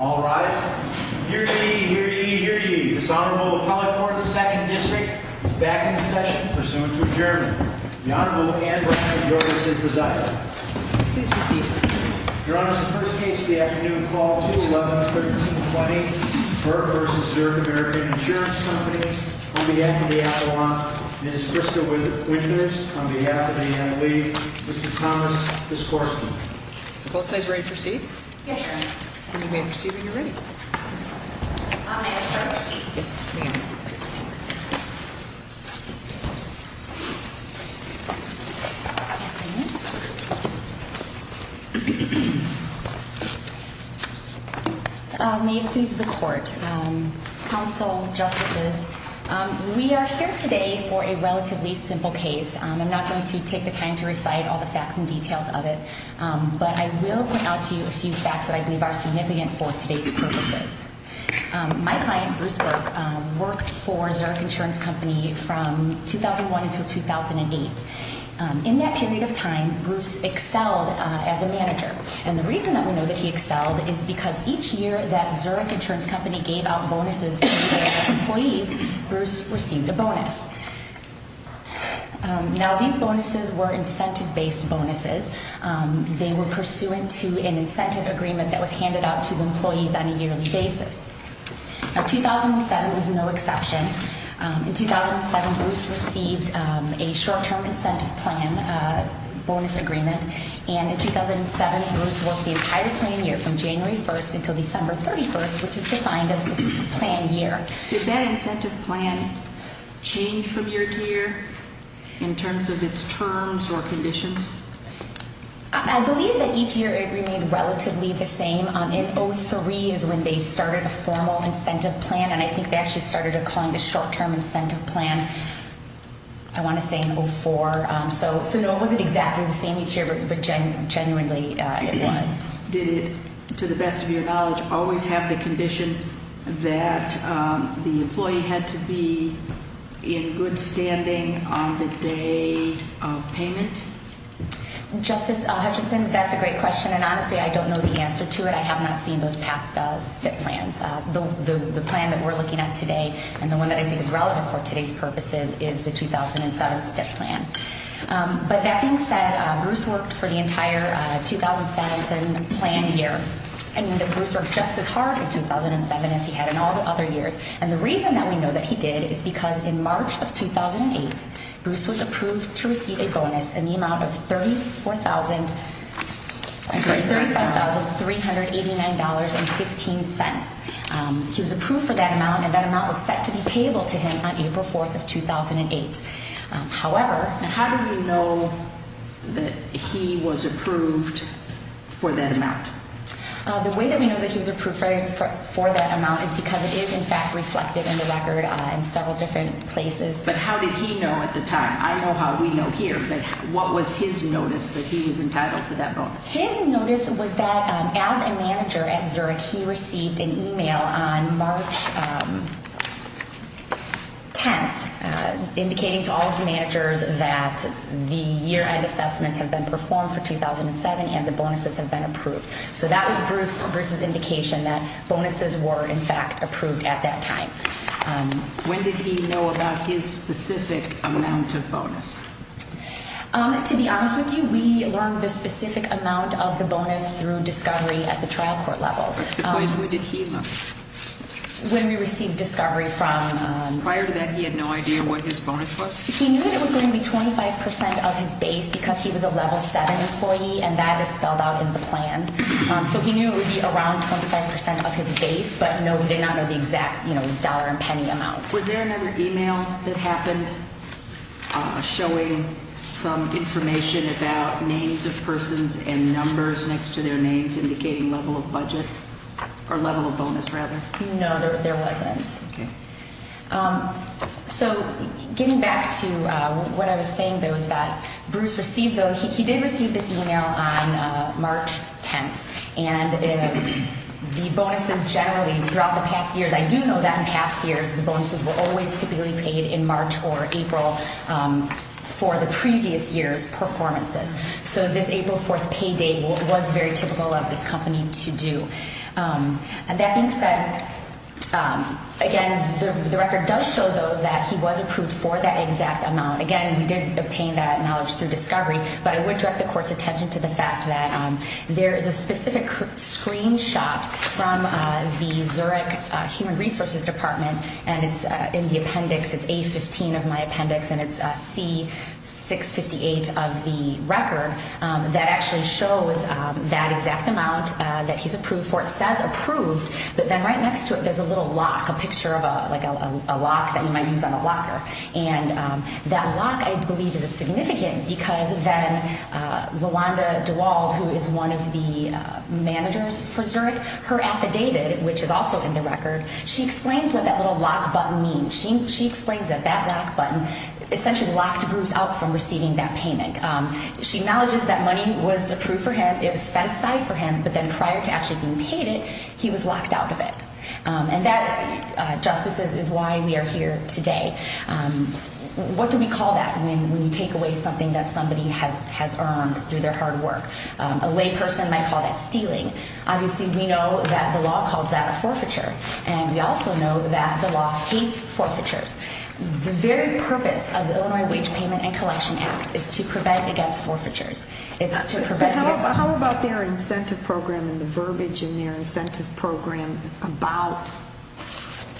All rise. Hear ye, hear ye, hear ye. This Honorable Appellate Court of the 2nd District is back in session, pursuant to adjournment. The Honorable Anne Brashner, Your Honor, is here to preside. Please proceed. Your Honor, the first case of the afternoon, Call 2-11-1320, Burke v. Zurich American Insurance Company, on behalf of the Attawan, Ms. Krista Winters, on behalf of the Anna Lee, Mr. Thomas Giscorsky. Are both sides ready to proceed? Yes, Your Honor. You may proceed when you're ready. May I start? Yes, ma'am. May it please the Court, Counsel, Justices, We are here today for a relatively simple case. I'm not going to take the time to recite all the facts and details of it, but I will point out to you a few facts that I believe are significant for today's purposes. My client, Bruce Burke, worked for Zurich Insurance Company from 2001 until 2008. In that period of time, Bruce excelled as a manager. And the reason that we know that he excelled is because each year that Zurich Insurance Company gave out bonuses to their employees, Bruce received a bonus. Now, these bonuses were incentive-based bonuses. They were pursuant to an incentive agreement that was handed out to employees on a yearly basis. 2007 was no exception. In 2007, Bruce received a short-term incentive plan bonus agreement, and in 2007, Bruce worked the entire plan year from January 1st until December 31st, which is defined as the plan year. Did that incentive plan change from year to year in terms of its terms or conditions? I believe that each year it remained relatively the same. In 2003 is when they started a formal incentive plan, and I think they actually started calling it a short-term incentive plan, I want to say in 2004. So no, it wasn't exactly the same each year, but genuinely it was. Did it, to the best of your knowledge, always have the condition that the employee had to be in good standing on the day of payment? Justice Hutchinson, that's a great question, and honestly I don't know the answer to it. I have not seen those past STIP plans. The plan that we're looking at today, and the one that I think is relevant for today's purposes, is the 2007 STIP plan. But that being said, Bruce worked for the entire 2007 plan year. And we know that Bruce worked just as hard in 2007 as he had in all the other years. And the reason that we know that he did is because in March of 2008, Bruce was approved to receive a bonus in the amount of $35,389.15. He was approved for that amount, and that amount was set to be payable to him on April 4th of 2008. How do we know that he was approved for that amount? The way that we know that he was approved for that amount is because it is, in fact, reflected in the record in several different places. But how did he know at the time? I know how we know here, but what was his notice that he was entitled to that bonus? His notice was that as a manager at Zurich, he received an email on March 10th indicating to all of the managers that the year-end assessments have been performed for 2007 and the bonuses have been approved. So that was Bruce's indication that bonuses were, in fact, approved at that time. When did he know about his specific amount of bonus? To be honest with you, we learned the specific amount of the bonus through discovery at the trial court level. Because when did he know? When we received discovery from... Prior to that, he had no idea what his bonus was? He knew that it was going to be 25% of his base because he was a level 7 employee, and that is spelled out in the plan. So he knew it would be around 25% of his base, but no, he did not know the exact dollar and penny amount. Was there another email that happened showing some information about names of persons and numbers next to their names indicating level of budget? Or level of bonus, rather? No, there wasn't. Okay. So getting back to what I was saying, there was that Bruce received... He did receive this email on March 10th, and the bonuses generally throughout the past years... I do know that in past years, the bonuses were always typically paid in March or April for the previous year's performances. So this April 4th payday was very typical of this company to do. That being said, again, the record does show, though, that he was approved for that exact amount. Again, we did obtain that knowledge through discovery, but I would direct the Court's attention to the fact that there is a specific screenshot from the Zurich Human Resources Department, and it's in the appendix. It's A-15 of my appendix, and it's C-658 of the record that actually shows that exact amount that he's approved for. It says approved, but then right next to it, there's a little lock, a picture of a lock that you might use on a locker. And that lock, I believe, is significant because then Rwanda DeWald, who is one of the managers for Zurich, her affidavit, which is also in the record, she explains what that little lock button means. She explains that that lock button essentially locked Bruce out from receiving that payment. She acknowledges that money was approved for him, it was set aside for him, but then prior to actually being paid it, he was locked out of it. And that, Justices, is why we are here today. What do we call that when you take away something that somebody has earned through their hard work? A layperson might call that stealing. Obviously, we know that the law calls that a forfeiture, and we also know that the law hates forfeitures. The very purpose of the Illinois Wage Payment and Collection Act is to prevent against forfeitures. How about their incentive program and the verbiage in their incentive program about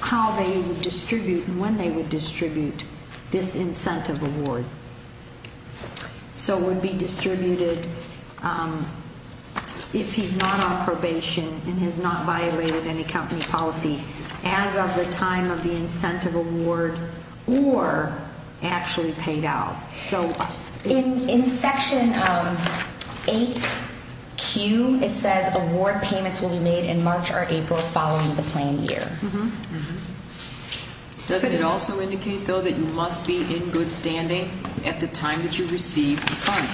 how they would distribute and when they would distribute this incentive award? So it would be distributed if he's not on probation and has not violated any company policy as of the time of the incentive award or actually paid out. In Section 8Q, it says award payments will be made in March or April following the planned year. Does it also indicate, though, that you must be in good standing at the time that you receive the fund?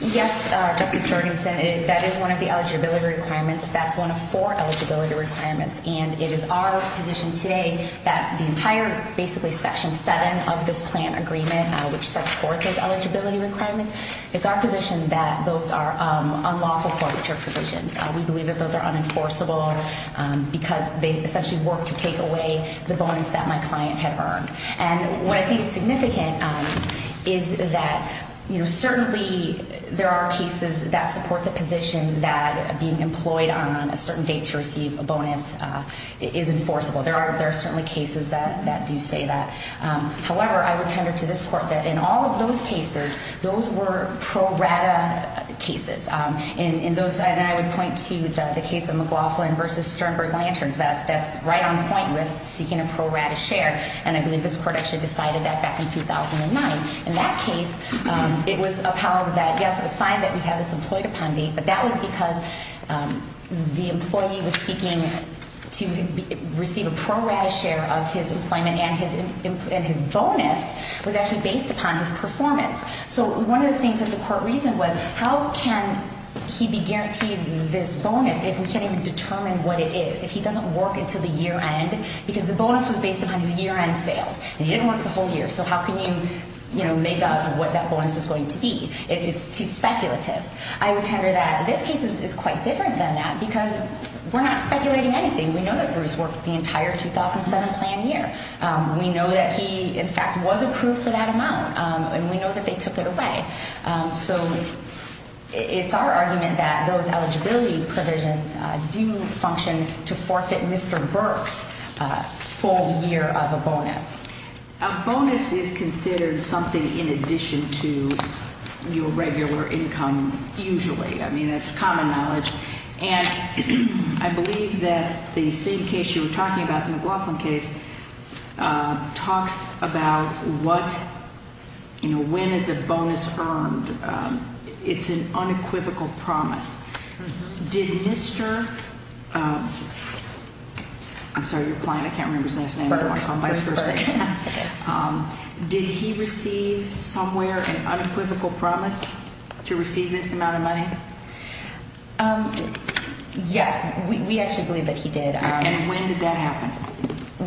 Yes, Justice Jorgensen. That is one of the eligibility requirements. That's one of four eligibility requirements, and it is our position today that the entire basically Section 7 of this plan agreement, which sets forth those eligibility requirements, it's our position that those are unlawful forfeiture provisions. We believe that those are unenforceable because they essentially work to take away the bonus that my client had earned. And what I think is significant is that certainly there are cases that support the position that being employed on a certain date to receive a bonus is enforceable. There are certainly cases that do say that. However, I would tender to this Court that in all of those cases, those were pro rata cases. And I would point to the case of McLaughlin v. Sternberg Lanterns. That's right on point with seeking a pro rata share, and I believe this Court actually decided that back in 2009. In that case, it was upheld that, yes, it was fine that we have this employed-upon date, but that was because the employee was seeking to receive a pro rata share of his employment and his bonus was actually based upon his performance. So one of the things that the Court reasoned was, how can he be guaranteed this bonus if we can't even determine what it is, if he doesn't work until the year end, because the bonus was based upon his year-end sales. He didn't work the whole year, so how can you make up what that bonus is going to be if it's too speculative? I would tender that this case is quite different than that because we're not speculating anything. We know that Bruce worked the entire 2007 plan year. We know that he, in fact, was approved for that amount, and we know that they took it away. So it's our argument that those eligibility provisions do function to forfeit Mr. Burke's full year of a bonus. A bonus is considered something in addition to your regular income, usually. I mean, that's common knowledge. And I believe that the same case you were talking about, the McLaughlin case, talks about what, you know, when is a bonus earned. It's an unequivocal promise. Did Mr. – I'm sorry, you're applying. I can't remember his last name. Burke. Did he receive somewhere an unequivocal promise to receive this amount of money? Yes. We actually believe that he did. And when did that happen?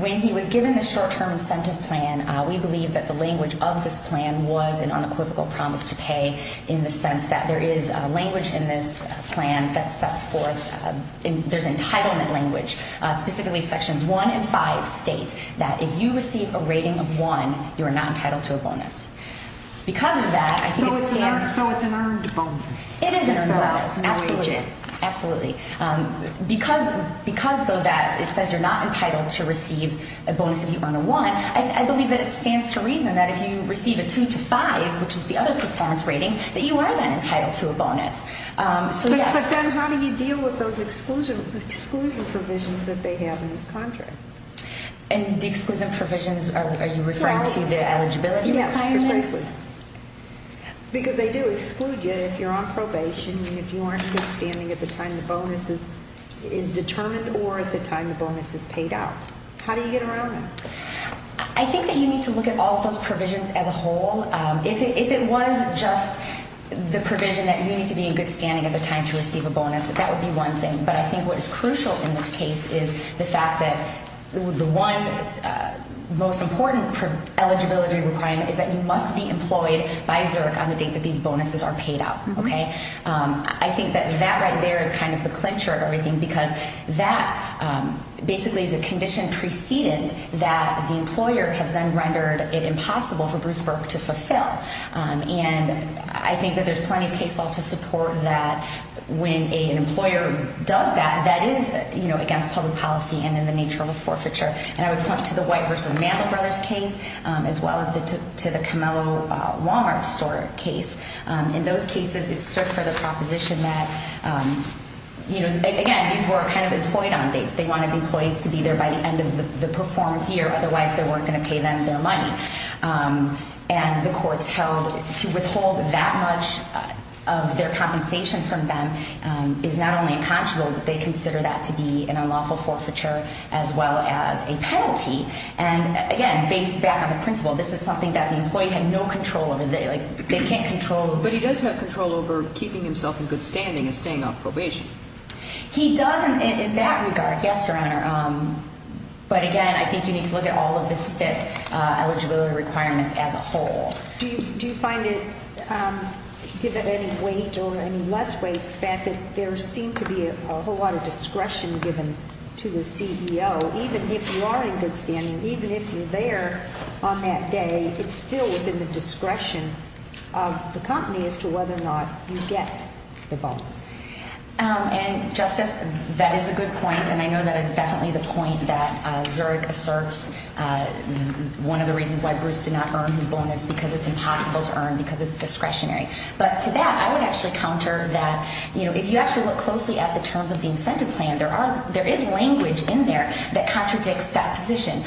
When he was given the short-term incentive plan, in the sense that there is language in this plan that sets forth – there's entitlement language. Specifically, Sections 1 and 5 state that if you receive a rating of 1, you are not entitled to a bonus. Because of that, I think it stands – So it's an earned bonus. It is an earned bonus, absolutely. Because, though, that it says you're not entitled to receive a bonus if you earn a 1, I believe that it stands to reason that if you receive a 2 to 5, which is the other performance ratings, that you are then entitled to a bonus. But then how do you deal with those exclusion provisions that they have in this contract? And the exclusion provisions, are you referring to the eligibility? Yes, precisely. Because they do exclude you if you're on probation and if you aren't good standing at the time the bonus is determined or at the time the bonus is paid out. How do you get around that? I think that you need to look at all of those provisions as a whole. If it was just the provision that you need to be in good standing at the time to receive a bonus, that would be one thing. But I think what is crucial in this case is the fact that the one most important eligibility requirement is that you must be employed by Zerk on the date that these bonuses are paid out. I think that that right there is kind of the clincher of everything because that basically is a condition preceded that the employer has then rendered it impossible for Bruce Burke to fulfill. And I think that there's plenty of case law to support that when an employer does that, that is against public policy and in the nature of a forfeiture. And I would point to the White v. Mantler brothers case as well as to the Camelo Walmart store case. In those cases, it stood for the proposition that, again, these were kind of employed on dates. They wanted the employees to be there by the end of the performance year. And the courts held to withhold that much of their compensation from them is not only unconscionable, but they consider that to be an unlawful forfeiture as well as a penalty. And, again, based back on the principle, this is something that the employee had no control over. They can't control. But he does have control over keeping himself in good standing and staying off probation. He does in that regard, yes, Your Honor. But, again, I think you need to look at all of the STIP eligibility requirements as a whole. Do you find it, given any weight or any less weight, the fact that there seemed to be a whole lot of discretion given to the CEO, even if you are in good standing, even if you're there on that day, it's still within the discretion of the company as to whether or not you get the bonus? And, Justice, that is a good point. And I know that is definitely the point that Zurich asserts one of the reasons why Bruce did not earn his bonus, because it's impossible to earn because it's discretionary. But to that, I would actually counter that, you know, if you actually look closely at the terms of the incentive plan, there is language in there that contradicts that position,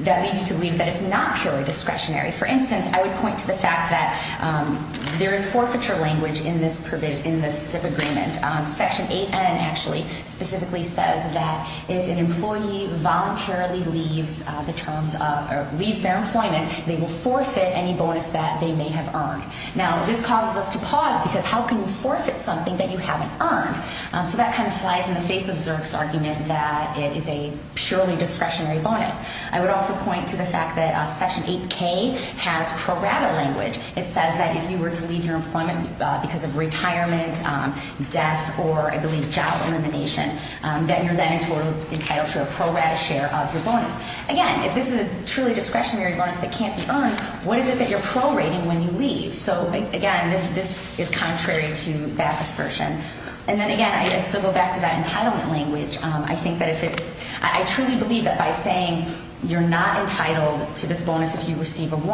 that leads you to believe that it's not purely discretionary. For instance, I would point to the fact that there is forfeiture language in this STIP agreement. Section 8N actually specifically says that if an employee voluntarily leaves their employment, they will forfeit any bonus that they may have earned. Now, this causes us to pause, because how can you forfeit something that you haven't earned? So that kind of flies in the face of Zurich's argument that it is a purely discretionary bonus. I would also point to the fact that Section 8K has pro rata language. It says that if you were to leave your employment because of retirement, death, or I believe job elimination, then you're then entitled to a pro rata share of your bonus. Again, if this is a truly discretionary bonus that can't be earned, what is it that you're prorating when you leave? So, again, this is contrary to that assertion. And then, again, I still go back to that entitlement language. I truly believe that by saying you're not entitled to this bonus if you receive a 1,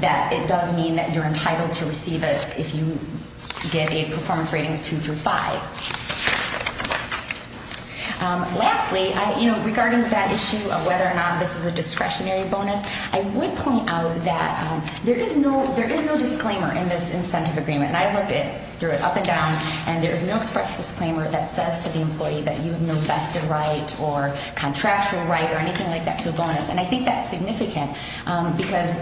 that it does mean that you're entitled to receive it if you get a performance rating of 2 through 5. Lastly, regarding that issue of whether or not this is a discretionary bonus, I would point out that there is no disclaimer in this incentive agreement. And I looked at it, threw it up and down, and there is no express disclaimer that says to the employee that you have no vested right or contractual right or anything like that to a bonus. And I think that's significant because,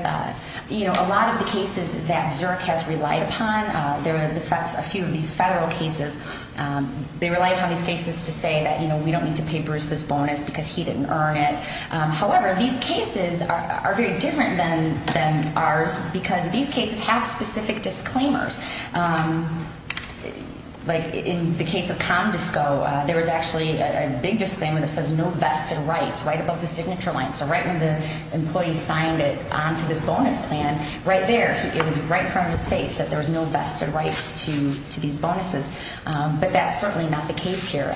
you know, a lot of the cases that Zurich has relied upon, there are a few of these federal cases, they rely upon these cases to say that, you know, we don't need to pay Bruce this bonus because he didn't earn it. However, these cases are very different than ours because these cases have specific disclaimers. Like in the case of ComDisco, there was actually a big disclaimer that says no vested rights right above the signature line. So right when the employee signed it onto this bonus plan, right there, it was right in front of his face that there was no vested rights to these bonuses. But that's certainly not the case here.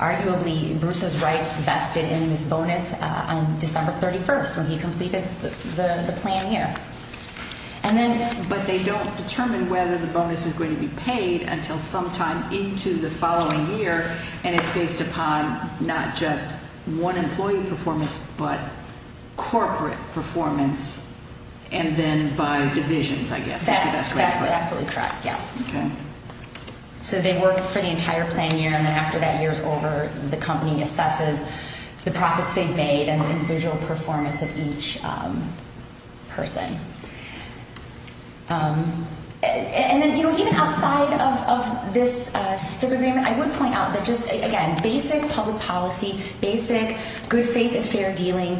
Arguably, Bruce's rights vested in this bonus on December 31st when he completed the plan year. And then... But they don't determine whether the bonus is going to be paid until sometime into the following year, and it's based upon not just one employee performance but corporate performance and then by divisions, I guess. That's absolutely correct, yes. Okay. So they work for the entire plan year, and then after that year's over, the company assesses the profits they've made and the individual performance of each person. And then, you know, even outside of this STIP agreement, I would point out that just, again, basic public policy, basic good faith and fair dealing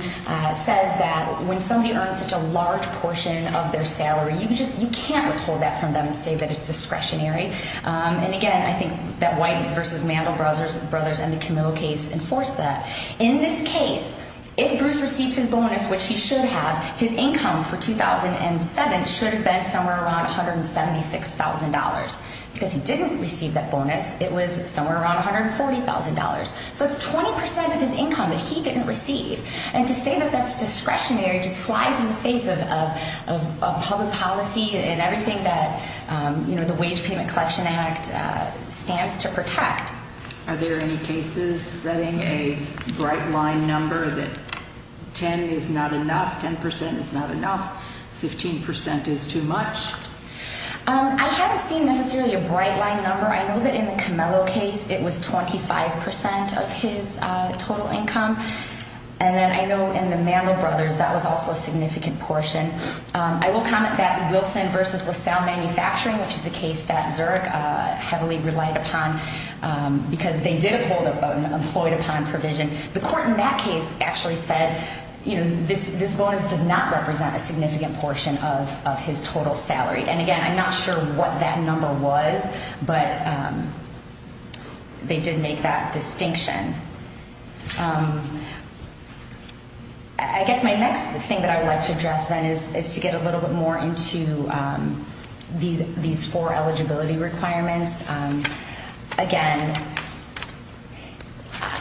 says that when somebody earns such a large portion of their salary, you just can't withhold that from them and say that it's discretionary. And, again, I think that White v. Mandel Brothers and the Camillo case enforced that. In this case, if Bruce received his bonus, which he should have, his income for 2007 should have been somewhere around $176,000. Because he didn't receive that bonus. It was somewhere around $140,000. So it's 20% of his income that he didn't receive. And to say that that's discretionary just flies in the face of public policy and everything that, you know, the Wage Payment Collection Act stands to protect. Are there any cases setting a bright line number that 10 is not enough, 10% is not enough, 15% is too much? I haven't seen necessarily a bright line number. I know that in the Camillo case, it was 25% of his total income. And then I know in the Mandel Brothers, that was also a significant portion. I will comment that Wilson v. LaSalle Manufacturing, which is a case that Zurich heavily relied upon, because they did employed upon provision, the court in that case actually said, you know, this bonus does not represent a significant portion of his total salary. And, again, I'm not sure what that number was, but they did make that distinction. I guess my next thing that I would like to address then is to get a little bit more into these four eligibility requirements. Again,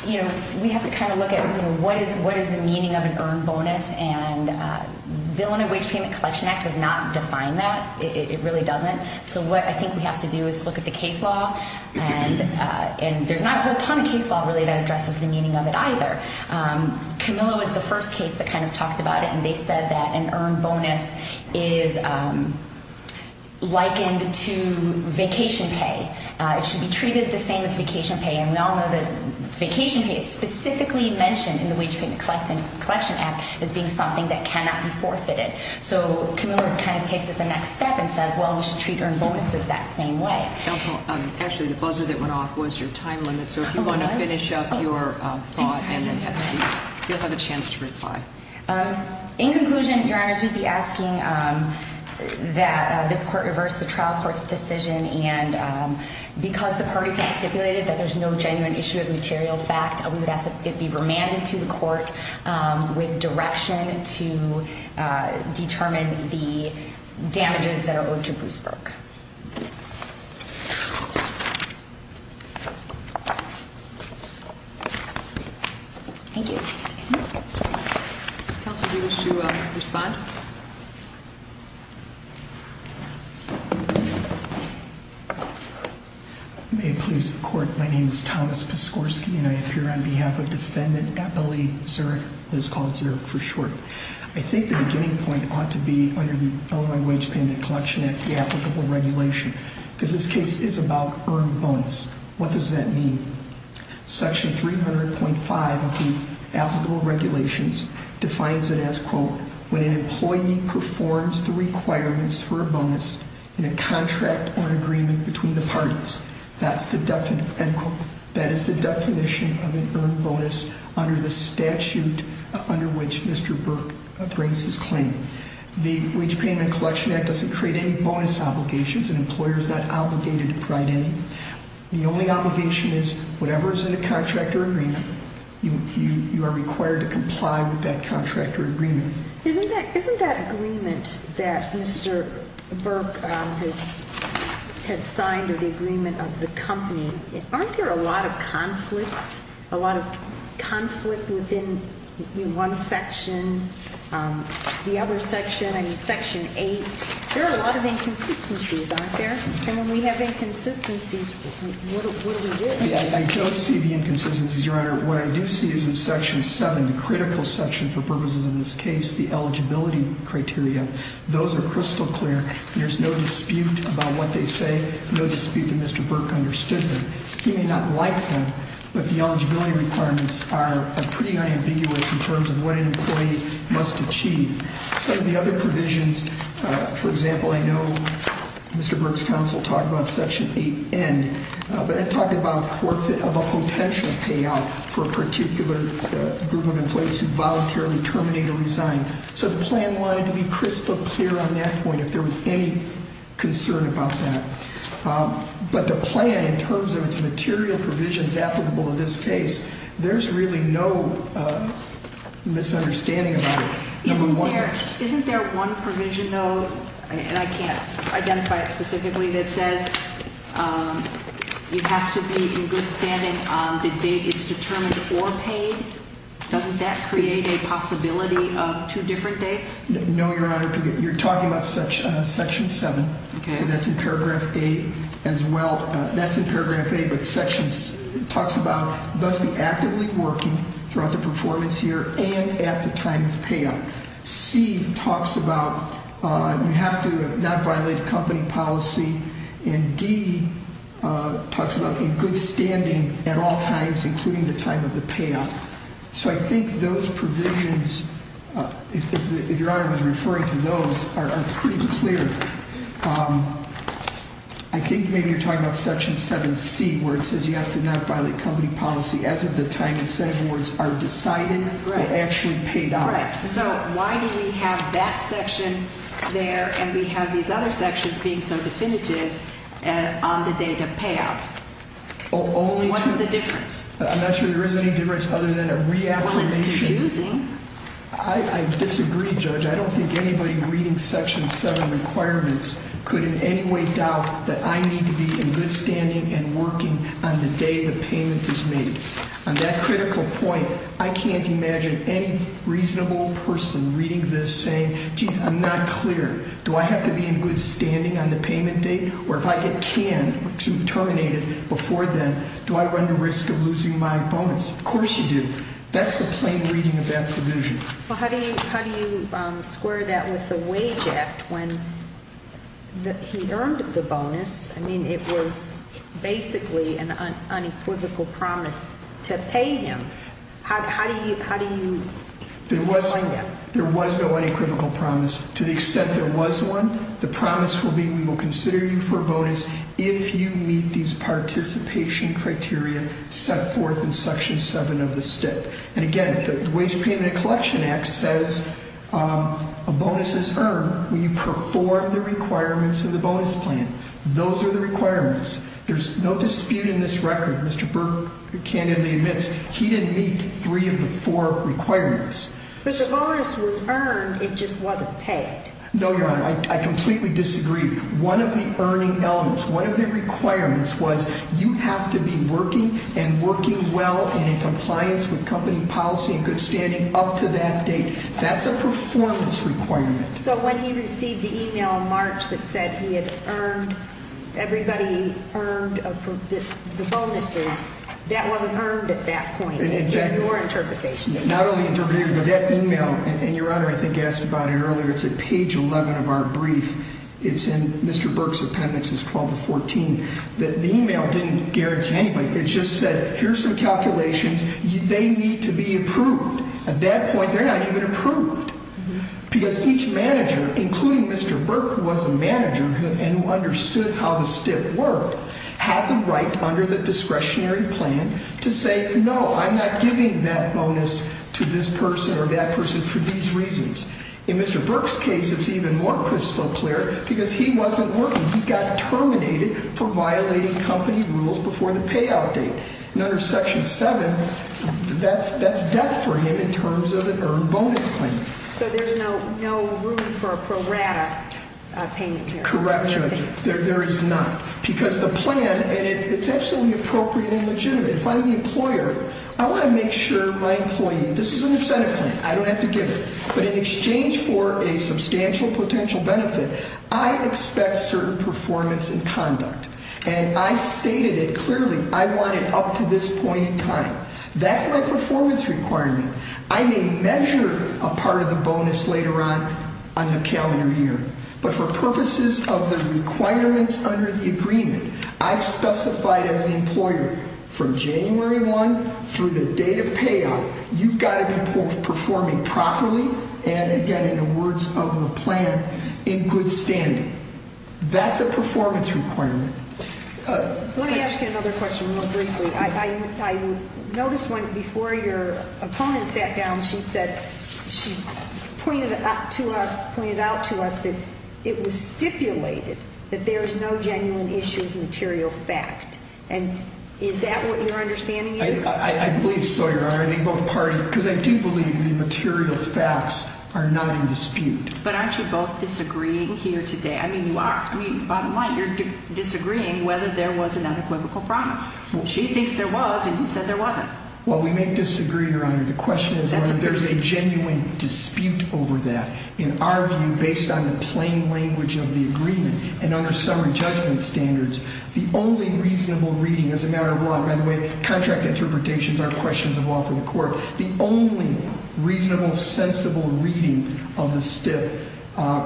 you know, we have to kind of look at, you know, what is the meaning of an earned bonus? And the Bill and Wage Payment Collection Act does not define that. It really doesn't. So what I think we have to do is look at the case law. And there's not a whole ton of case law really that addresses the meaning of it either. Camillo is the first case that kind of talked about it, and they said that an earned bonus is likened to vacation pay. It should be treated the same as vacation pay. And we all know that vacation pay is specifically mentioned in the Wage Payment Collection Act as being something that cannot be forfeited. So Camillo kind of takes it the next step and says, well, we should treat earned bonuses that same way. Counsel, actually, the buzzer that went off was your time limit. So if you want to finish up your thought and then have a seat, you'll have a chance to reply. In conclusion, Your Honors, we'd be asking that this court reverse the trial court's decision. And because the parties have stipulated that there's no genuine issue of material fact, we would ask that it be remanded to the court with direction to determine the damages that are owed to Bruce Burke. Thank you. Counsel, do you wish to respond? I may please the court. My name is Thomas Piskorski, and I appear on behalf of Defendant Appellee Zurich, who is called Zurich for short. I think the beginning point ought to be under the Illinois Wage Payment Collection Act, the applicable regulation, because this case is about earned bonus. What does that mean? Section 300.5 of the applicable regulations defines it as, quote, when an employee performs the requirements for a bonus in a contract or an agreement between the parties. That is the definition of an earned bonus under the statute under which Mr. Burke brings his claim. The Wage Payment Collection Act doesn't create any bonus obligations, and employers are not obligated to provide any. The only obligation is, whatever is in a contract or agreement, you are required to comply with that contract or agreement. Isn't that agreement that Mr. Burke has signed, or the agreement of the company, aren't there a lot of conflicts, a lot of conflict within one section, the other section, I mean, Section 8? There are a lot of inconsistencies, aren't there? And when we have inconsistencies, what do we do? I don't see the inconsistencies, Your Honor. What I do see is in Section 7, the critical section for purposes of this case, the eligibility criteria. Those are crystal clear. There's no dispute about what they say, no dispute that Mr. Burke understood them. He may not like them, but the eligibility requirements are pretty unambiguous in terms of what an employee must achieve. Some of the other provisions, for example, I know Mr. Burke's counsel talked about Section 8N, but it talked about forfeit of a potential payout for a particular group of employees who voluntarily terminate or resign. So the plan wanted to be crystal clear on that point, if there was any concern about that. But the plan, in terms of its material provisions applicable to this case, there's really no misunderstanding about it. Isn't there one provision, though, and I can't identify it specifically, that says you have to be in good standing on the date it's determined or paid? Doesn't that create a possibility of two different dates? No, Your Honor. You're talking about Section 7, and that's in Paragraph 8 as well. That's in Paragraph 8, but it talks about you must be actively working throughout the performance year and at the time of payout. C talks about you have to not violate company policy, and D talks about being in good standing at all times, including the time of the payout. So I think those provisions, if Your Honor was referring to those, are pretty clear. I think maybe you're talking about Section 7C, where it says you have to not violate company policy as of the time the Senate boards are decided or actually paid out. Right. So why do we have that section there, and we have these other sections being so definitive on the date of payout? What's the difference? I'm not sure there is any difference other than a reaffirmation. Well, it's confusing. I disagree, Judge. I don't think anybody reading Section 7 requirements could in any way doubt that I need to be in good standing and working on the day the payment is made. On that critical point, I can't imagine any reasonable person reading this saying, geez, I'm not clear. Do I have to be in good standing on the payment date, or if I get canned, terminated before then, do I run the risk of losing my bonus? Of course you do. That's the plain reading of that provision. Well, how do you square that with the Wage Act, when he earned the bonus? I mean, it was basically an unequivocal promise to pay him. How do you explain that? There was no unequivocal promise. To the extent there was one, the promise will be we will consider you for a bonus if you meet these participation criteria set forth in Section 7 of the STIP. And again, the Wage Payment and Collection Act says a bonus is earned when you perform the requirements of the bonus plan. Those are the requirements. There's no dispute in this record. Mr. Burke candidly admits he didn't meet three of the four requirements. But the bonus was earned, it just wasn't paid. No, Your Honor, I completely disagree. One of the earning elements, one of the requirements was you have to be working and working well and in compliance with company policy and good standing up to that date. That's a performance requirement. So when he received the e-mail in March that said he had earned, everybody earned the bonuses, that wasn't earned at that point, in your interpretation? Not only interpreted, but that e-mail, and Your Honor, I think asked about it earlier, it's at page 11 of our brief. It's in Mr. Burke's appendix, it's 12 to 14. The e-mail didn't guarantee anybody. It just said, here's some calculations. They need to be approved. At that point, they're not even approved. Because each manager, including Mr. Burke, who was a manager and understood how the stiff worked, had the right under the discretionary plan to say, no, I'm not giving that bonus to this person or that person for these reasons. In Mr. Burke's case, it's even more crystal clear because he wasn't working. He got terminated for violating company rules before the payout date. And under section seven, that's death for him in terms of an earned bonus claim. So there's no room for a pro rata payment here? Correct, Judge. There is not. Because the plan, and it's absolutely appropriate and legitimate. If I'm the employer, I want to make sure my employee, this is an incentive plan. I don't have to give it. But in exchange for a substantial potential benefit, I expect certain performance and conduct. And I stated it clearly. I want it up to this point in time. That's my performance requirement. I may measure a part of the bonus later on on the calendar year. But for purposes of the requirements under the agreement, I've specified as an employer, from January 1 through the date of payout, you've got to be performing properly and, again, in the words of the plan, in good standing. That's a performance requirement. Let me ask you another question real briefly. I noticed one before your opponent sat down. She said, she pointed out to us that it was stipulated that there is no genuine issue of material fact. And is that what your understanding is? I believe so, Your Honor. I think both parties, because I do believe the material facts are not in dispute. But aren't you both disagreeing here today? I mean, you are. I mean, bottom line, you're disagreeing whether there was an unequivocal promise. She thinks there was, and you said there wasn't. Well, we may disagree, Your Honor. The question is whether there's a genuine dispute over that. In our view, based on the plain language of the agreement and under summary judgment standards, the only reasonable reading as a matter of law, by the way, contract interpretations are questions of law for the court, the only reasonable, sensible reading of the stip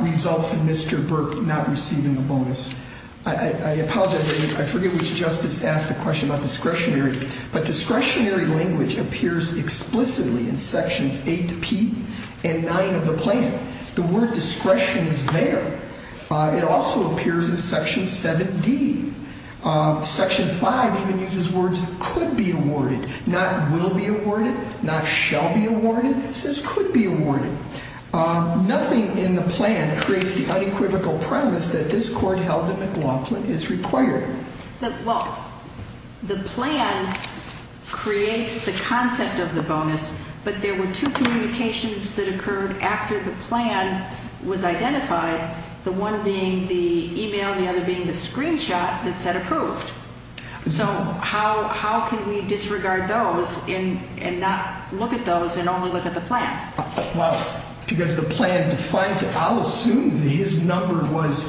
results in Mr. Burke not receiving a bonus. I apologize. I forget which justice asked the question about discretionary. But discretionary language appears explicitly in Sections 8P and 9 of the plan. The word discretion is there. It also appears in Section 7D. Section 5 even uses words could be awarded, not will be awarded, not shall be awarded. It says could be awarded. Nothing in the plan creates the unequivocal promise that this court held in McLaughlin is required. Well, the plan creates the concept of the bonus, but there were two communications that occurred after the plan was identified, the one being the e-mail and the other being the screenshot that said approved. So how can we disregard those and not look at those and only look at the plan? Well, because the plan defines it. I'll assume that his number was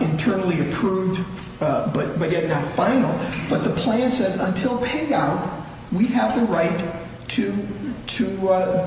internally approved but yet not final. But the plan says until payout, we have the right to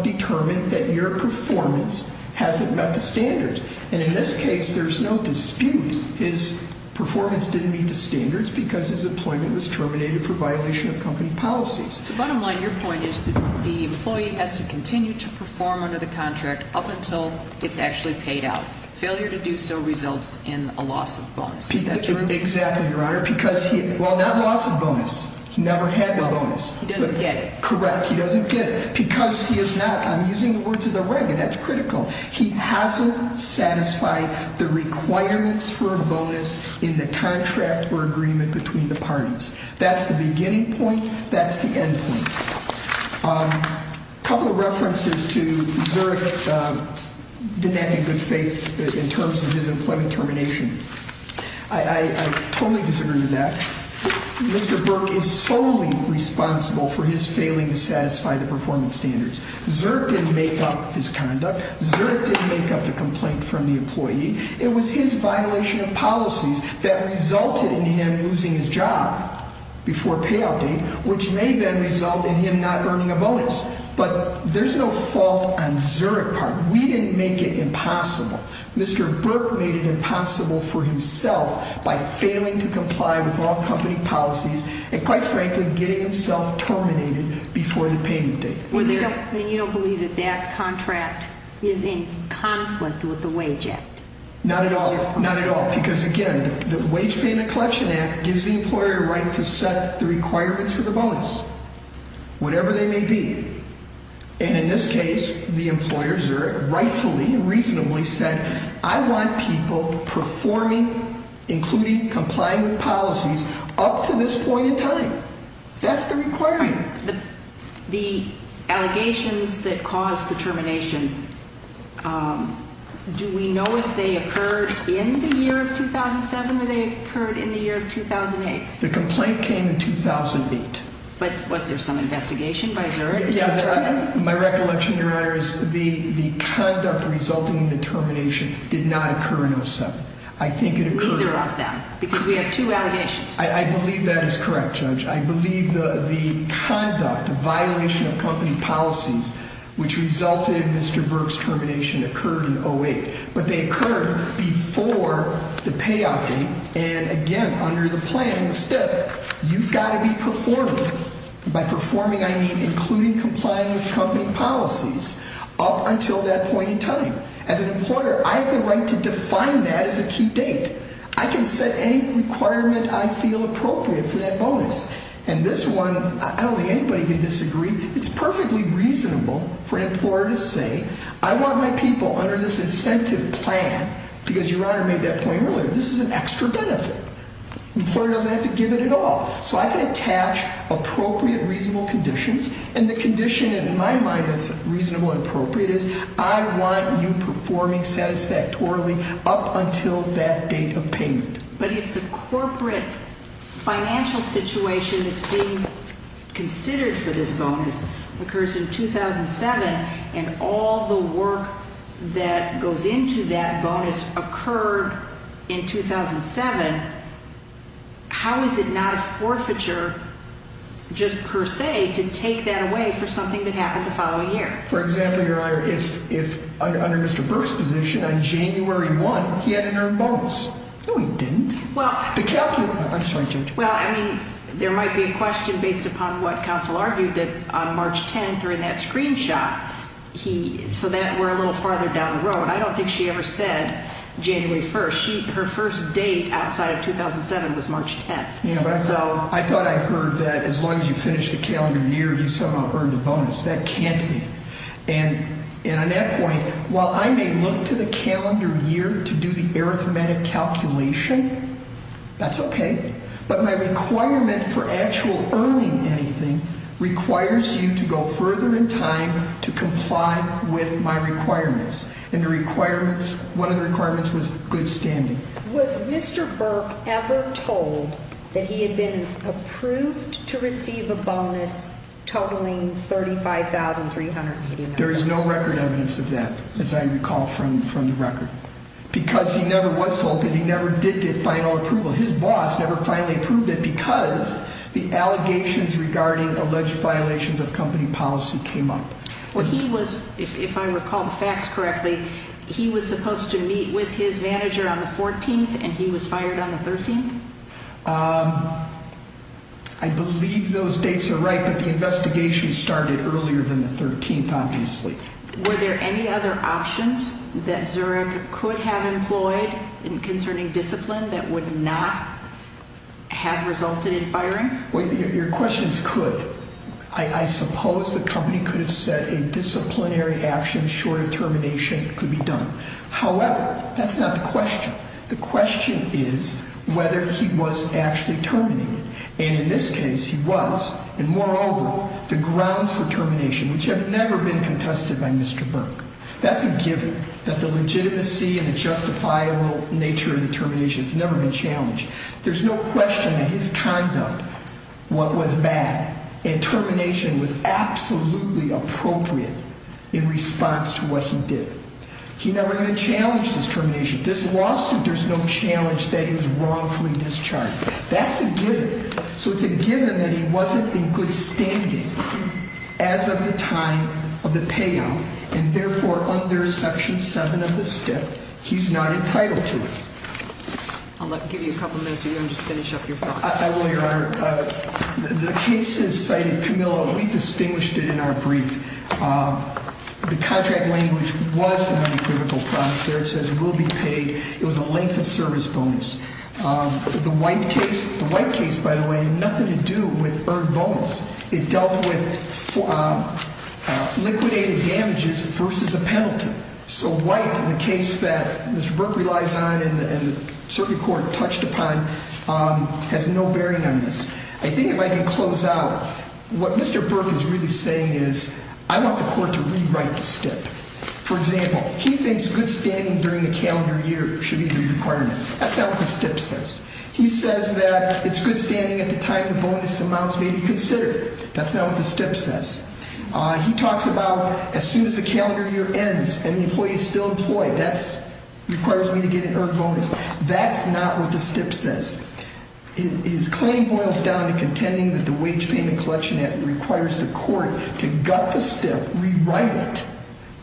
determine that your performance hasn't met the standards. And in this case, there's no dispute. His performance didn't meet the standards because his employment was terminated for violation of company policies. So bottom line, your point is the employee has to continue to perform under the contract up until it's actually paid out. Failure to do so results in a loss of bonus. Is that true? Exactly, Your Honor, because he, well, not loss of bonus. He never had the bonus. He doesn't get it. Correct. He doesn't get it. Because he is not, I'm using the words of the reg, and that's critical. He hasn't satisfied the requirements for a bonus in the contract or agreement between the parties. That's the beginning point. That's the end point. A couple of references to Zerk denying good faith in terms of his employment termination. I totally disagree with that. Mr. Burke is solely responsible for his failing to satisfy the performance standards. Zerk didn't make up his conduct. Zerk didn't make up the complaint from the employee. It was his violation of policies that resulted in him losing his job before payout date, which may then result in him not earning a bonus. But there's no fault on Zerk's part. We didn't make it impossible. Mr. Burke made it impossible for himself by failing to comply with all company policies and, quite frankly, getting himself terminated before the payment date. And you don't believe that that contract is in conflict with the Wage Act? Not at all. Not at all. Because, again, the Wage Payment Collection Act gives the employer the right to set the requirements for the bonus, whatever they may be. And in this case, the employers, rightfully and reasonably, said, I want people performing, including complying with policies, up to this point in time. That's the requirement. The allegations that caused the termination, do we know if they occurred in the year of 2007 or they occurred in the year of 2008? The complaint came in 2008. But was there some investigation by Zerk? My recollection, Your Honor, is the conduct resulting in the termination did not occur in 07. I think it occurred- Neither of them, because we have two allegations. I believe that is correct, Judge. I believe the conduct, the violation of company policies, which resulted in Mr. Burke's termination, occurred in 08. But they occurred before the payout date and, again, under the planning step. You've got to be performing. By performing, I mean including complying with company policies up until that point in time. As an employer, I have the right to define that as a key date. I can set any requirement I feel appropriate for that bonus. And this one, I don't think anybody can disagree. It's perfectly reasonable for an employer to say, I want my people under this incentive plan, because Your Honor made that point earlier, this is an extra benefit. The employer doesn't have to give it at all. So I can attach appropriate, reasonable conditions. And the condition, in my mind, that's reasonable and appropriate is I want you performing satisfactorily up until that date of payment. But if the corporate financial situation that's being considered for this bonus occurs in 2007 and all the work that goes into that bonus occurred in 2007, how is it not a forfeiture just per se to take that away for something that happened the following year? For example, Your Honor, if under Mr. Burke's position, on January 1, he had an earned bonus. No, he didn't. I'm sorry, Judge. Well, I mean, there might be a question based upon what counsel argued that on March 10, during that screenshot, so that we're a little farther down the road. I don't think she ever said January 1. Her first date outside of 2007 was March 10. I thought I heard that as long as you finish the calendar year, you somehow earned a bonus. That can't be. And on that point, while I may look to the calendar year to do the arithmetic calculation, that's okay, but my requirement for actual earning anything requires you to go further in time to comply with my requirements. And the requirements, one of the requirements was good standing. Was Mr. Burke ever told that he had been approved to receive a bonus totaling $35,380? There is no record evidence of that, as I recall from the record, because he never was told because he never did get final approval. His boss never finally approved it because the allegations regarding alleged violations of company policy came up. Well, he was, if I recall the facts correctly, he was supposed to meet with his manager on the 14th, and he was fired on the 13th? I believe those dates are right, but the investigation started earlier than the 13th, obviously. Were there any other options that Zurich could have employed concerning discipline that would not have resulted in firing? Well, your question is could. I suppose the company could have said a disciplinary action short of termination could be done. However, that's not the question. The question is whether he was actually terminated. And in this case, he was, and moreover, the grounds for termination, which have never been contested by Mr. Burke. That's a given that the legitimacy and the justifiable nature of the termination has never been challenged. There's no question that his conduct was bad, and termination was absolutely appropriate in response to what he did. He never even challenged his termination. This lawsuit, there's no challenge that he was wrongfully discharged. That's a given. So it's a given that he wasn't in good standing as of the time of the payout, and therefore, under Section 7 of the STIP, he's not entitled to it. I'll give you a couple minutes if you want to just finish up your thought. I will, Your Honor. The case, as cited, Camilla, we distinguished it in our brief. The contract language was a non-equivocal promise there. It says will be paid. It was a length of service bonus. The White case, by the way, had nothing to do with earned bonus. It dealt with liquidated damages versus a penalty. So White, in the case that Mr. Burke relies on and the circuit court touched upon, has no bearing on this. I think if I can close out, what Mr. Burke is really saying is I want the court to rewrite the STIP. For example, he thinks good standing during the calendar year should be the requirement. That's not what the STIP says. He says that it's good standing at the time the bonus amounts may be considered. That's not what the STIP says. He talks about as soon as the calendar year ends and the employee is still employed, that requires me to get an earned bonus. That's not what the STIP says. His claim boils down to contending that the Wage Payment and Collection Act requires the court to gut the STIP, rewrite it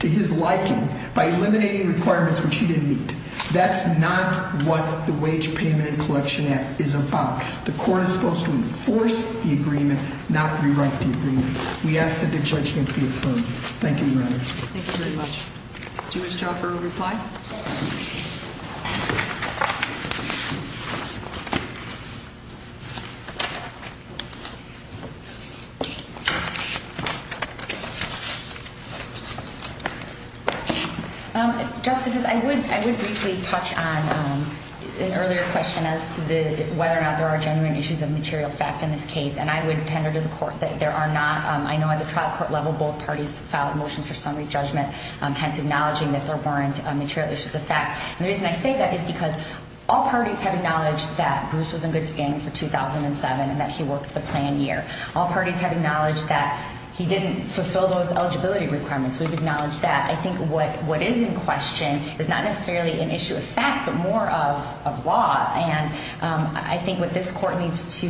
to his liking, by eliminating requirements which he didn't meet. That's not what the Wage Payment and Collection Act is about. The court is supposed to enforce the agreement, not rewrite the agreement. We ask that the judgment be affirmed. Thank you, Your Honor. Thank you very much. Do you wish to offer a reply? Yes. Justices, I would briefly touch on an earlier question as to whether or not there are genuine issues of material fact in this case. And I would tender to the court that there are not. I know at the trial court level, both parties filed a motion for summary judgment, hence acknowledging that there weren't material issues of fact. And the reason I say that is because all parties have acknowledged that Bruce was in good standing for 2007 and that he worked the plan year. All parties have acknowledged that he didn't fulfill those eligibility requirements. We've acknowledged that. I think what is in question is not necessarily an issue of fact, but more of law. And I think what this court needs to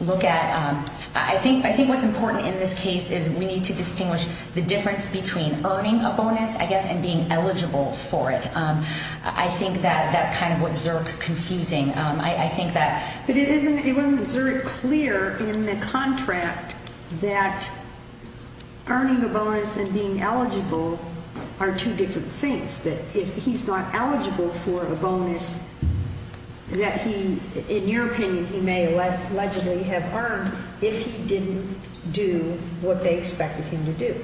look at, I think what's important in this case is we need to distinguish the difference between earning a bonus, I guess, and being eligible for it. I think that that's kind of what Zerk's confusing. But it wasn't Zerk clear in the contract that earning a bonus and being eligible are two different things. That if he's not eligible for a bonus that he, in your opinion, he may allegedly have earned if he didn't do what they expected him to do,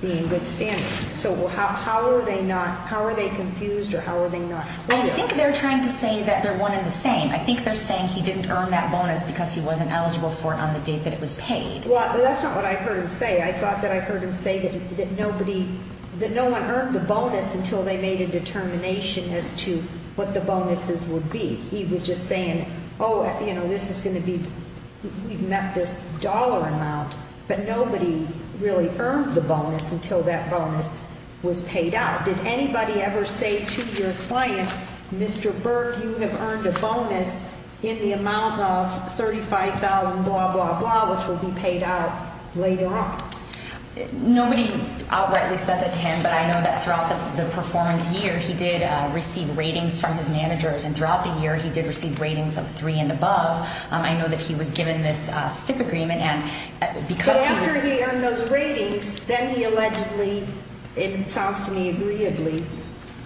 be in good standing. So how are they confused or how are they not? I think they're trying to say that they're one in the same. I think they're saying he didn't earn that bonus because he wasn't eligible for it on the date that it was paid. Well, that's not what I heard him say. I thought that I heard him say that nobody, that no one earned the bonus until they made a determination as to what the bonuses would be. He was just saying, oh, you know, this is going to be, we've met this dollar amount. But nobody really earned the bonus until that bonus was paid out. Did anybody ever say to your client, Mr. Berg, you have earned a bonus in the amount of $35,000, blah, blah, blah, which will be paid out later on? Nobody outrightly said that to him. But I know that throughout the performance year, he did receive ratings from his managers. And throughout the year, he did receive ratings of three and above. I know that he was given this stip agreement. But after he earned those ratings, then he allegedly, it sounds to me agreeably,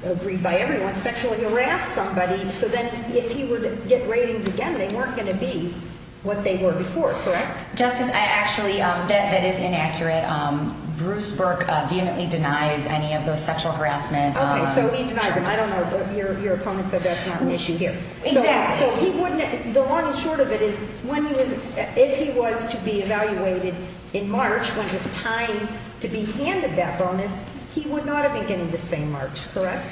agreed by everyone, sexually harassed somebody. So then if he were to get ratings again, they weren't going to be what they were before, correct? Justice, I actually, that is inaccurate. Bruce Berg vehemently denies any of those sexual harassment charges. Okay, so he denies them. I don't know, but your opponent said that's not an issue here. Exactly. The long and short of it is if he was to be evaluated in March, when it was time to be handed that bonus, he would not have been getting the same marks, correct?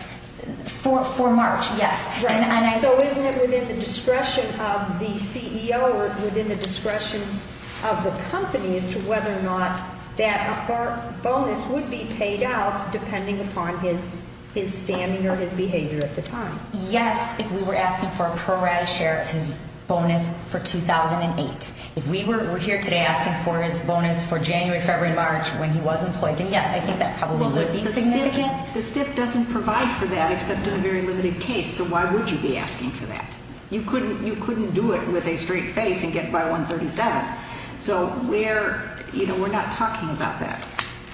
For March, yes. So isn't it within the discretion of the CEO or within the discretion of the company as to whether or not that bonus would be paid out depending upon his standing or his behavior at the time? Yes, if we were asking for a pro-rata share of his bonus for 2008. If we were here today asking for his bonus for January, February, and March when he was employed, then yes, I think that probably would be significant. The stip doesn't provide for that except in a very limited case, so why would you be asking for that? You couldn't do it with a straight face and get by 137. So we're not talking about that.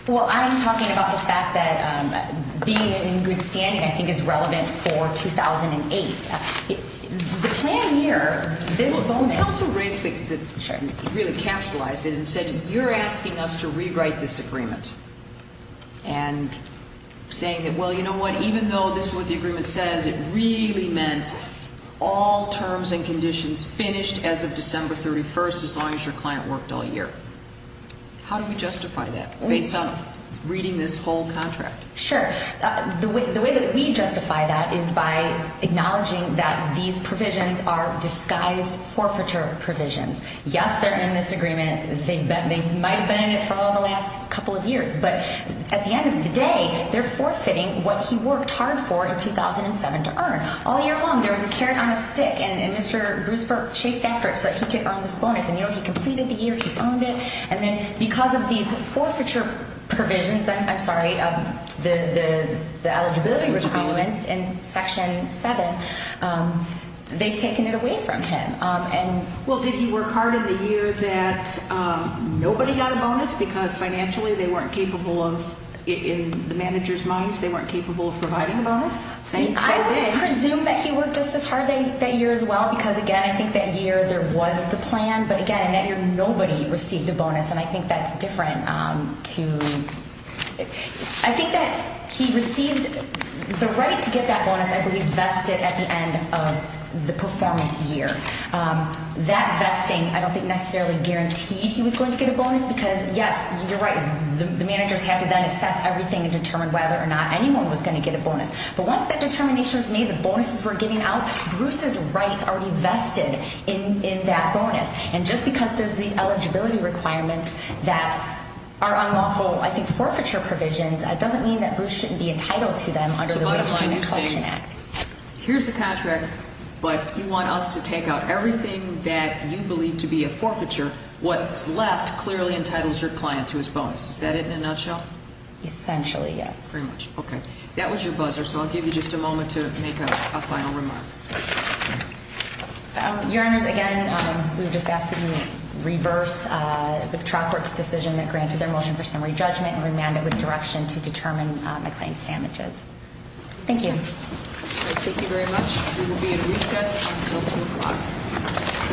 Well, I'm talking about the fact that being in good standing I think is relevant for 2008. The plan here, this bonus… Well, the counsel raised it, really capsulized it, and said you're asking us to rewrite this agreement. And saying that, well, you know what, even though this is what the agreement says, it really meant all terms and conditions finished as of December 31st as long as your client worked all year. How do we justify that based on reading this whole contract? Sure. The way that we justify that is by acknowledging that these provisions are disguised forfeiture provisions. Yes, they're in this agreement. They might have been in it for all the last couple of years. But at the end of the day, they're forfeiting what he worked hard for in 2007 to earn. All year long there was a carrot on a stick, and Mr. Bruce Burke chased after it so that he could earn this bonus. And, you know, he completed the year, he earned it. And then because of these forfeiture provisions, I'm sorry, the eligibility requirements in Section 7, they've taken it away from him. Well, did he work hard in the year that nobody got a bonus because financially they weren't capable of, in the manager's minds, they weren't capable of providing a bonus? I would presume that he worked just as hard that year as well because, again, I think that year there was the plan. But, again, that year nobody received a bonus, and I think that's different to – I think that he received – the right to get that bonus, I believe, vested at the end of the performance year. That vesting I don't think necessarily guaranteed he was going to get a bonus because, yes, you're right, the managers had to then assess everything and determine whether or not anyone was going to get a bonus. But once that determination was made, the bonuses were given out, Bruce's right already vested in that bonus. And just because there's these eligibility requirements that are unlawful, I think, forfeiture provisions, it doesn't mean that Bruce shouldn't be entitled to them under the Wage and Employment Act. So, bottom line, you're saying here's the contract, but you want us to take out everything that you believe to be a forfeiture, what's left clearly entitles your client to his bonus. Is that it in a nutshell? Essentially, yes. Okay. That was your buzzer, so I'll give you just a moment to make a final remark. Your Honors, again, we've just asked that you reverse the trial court's decision that granted their motion for summary judgment and remand it with direction to determine the client's damages. Thank you. Thank you very much. We will be at a recess until 2 o'clock.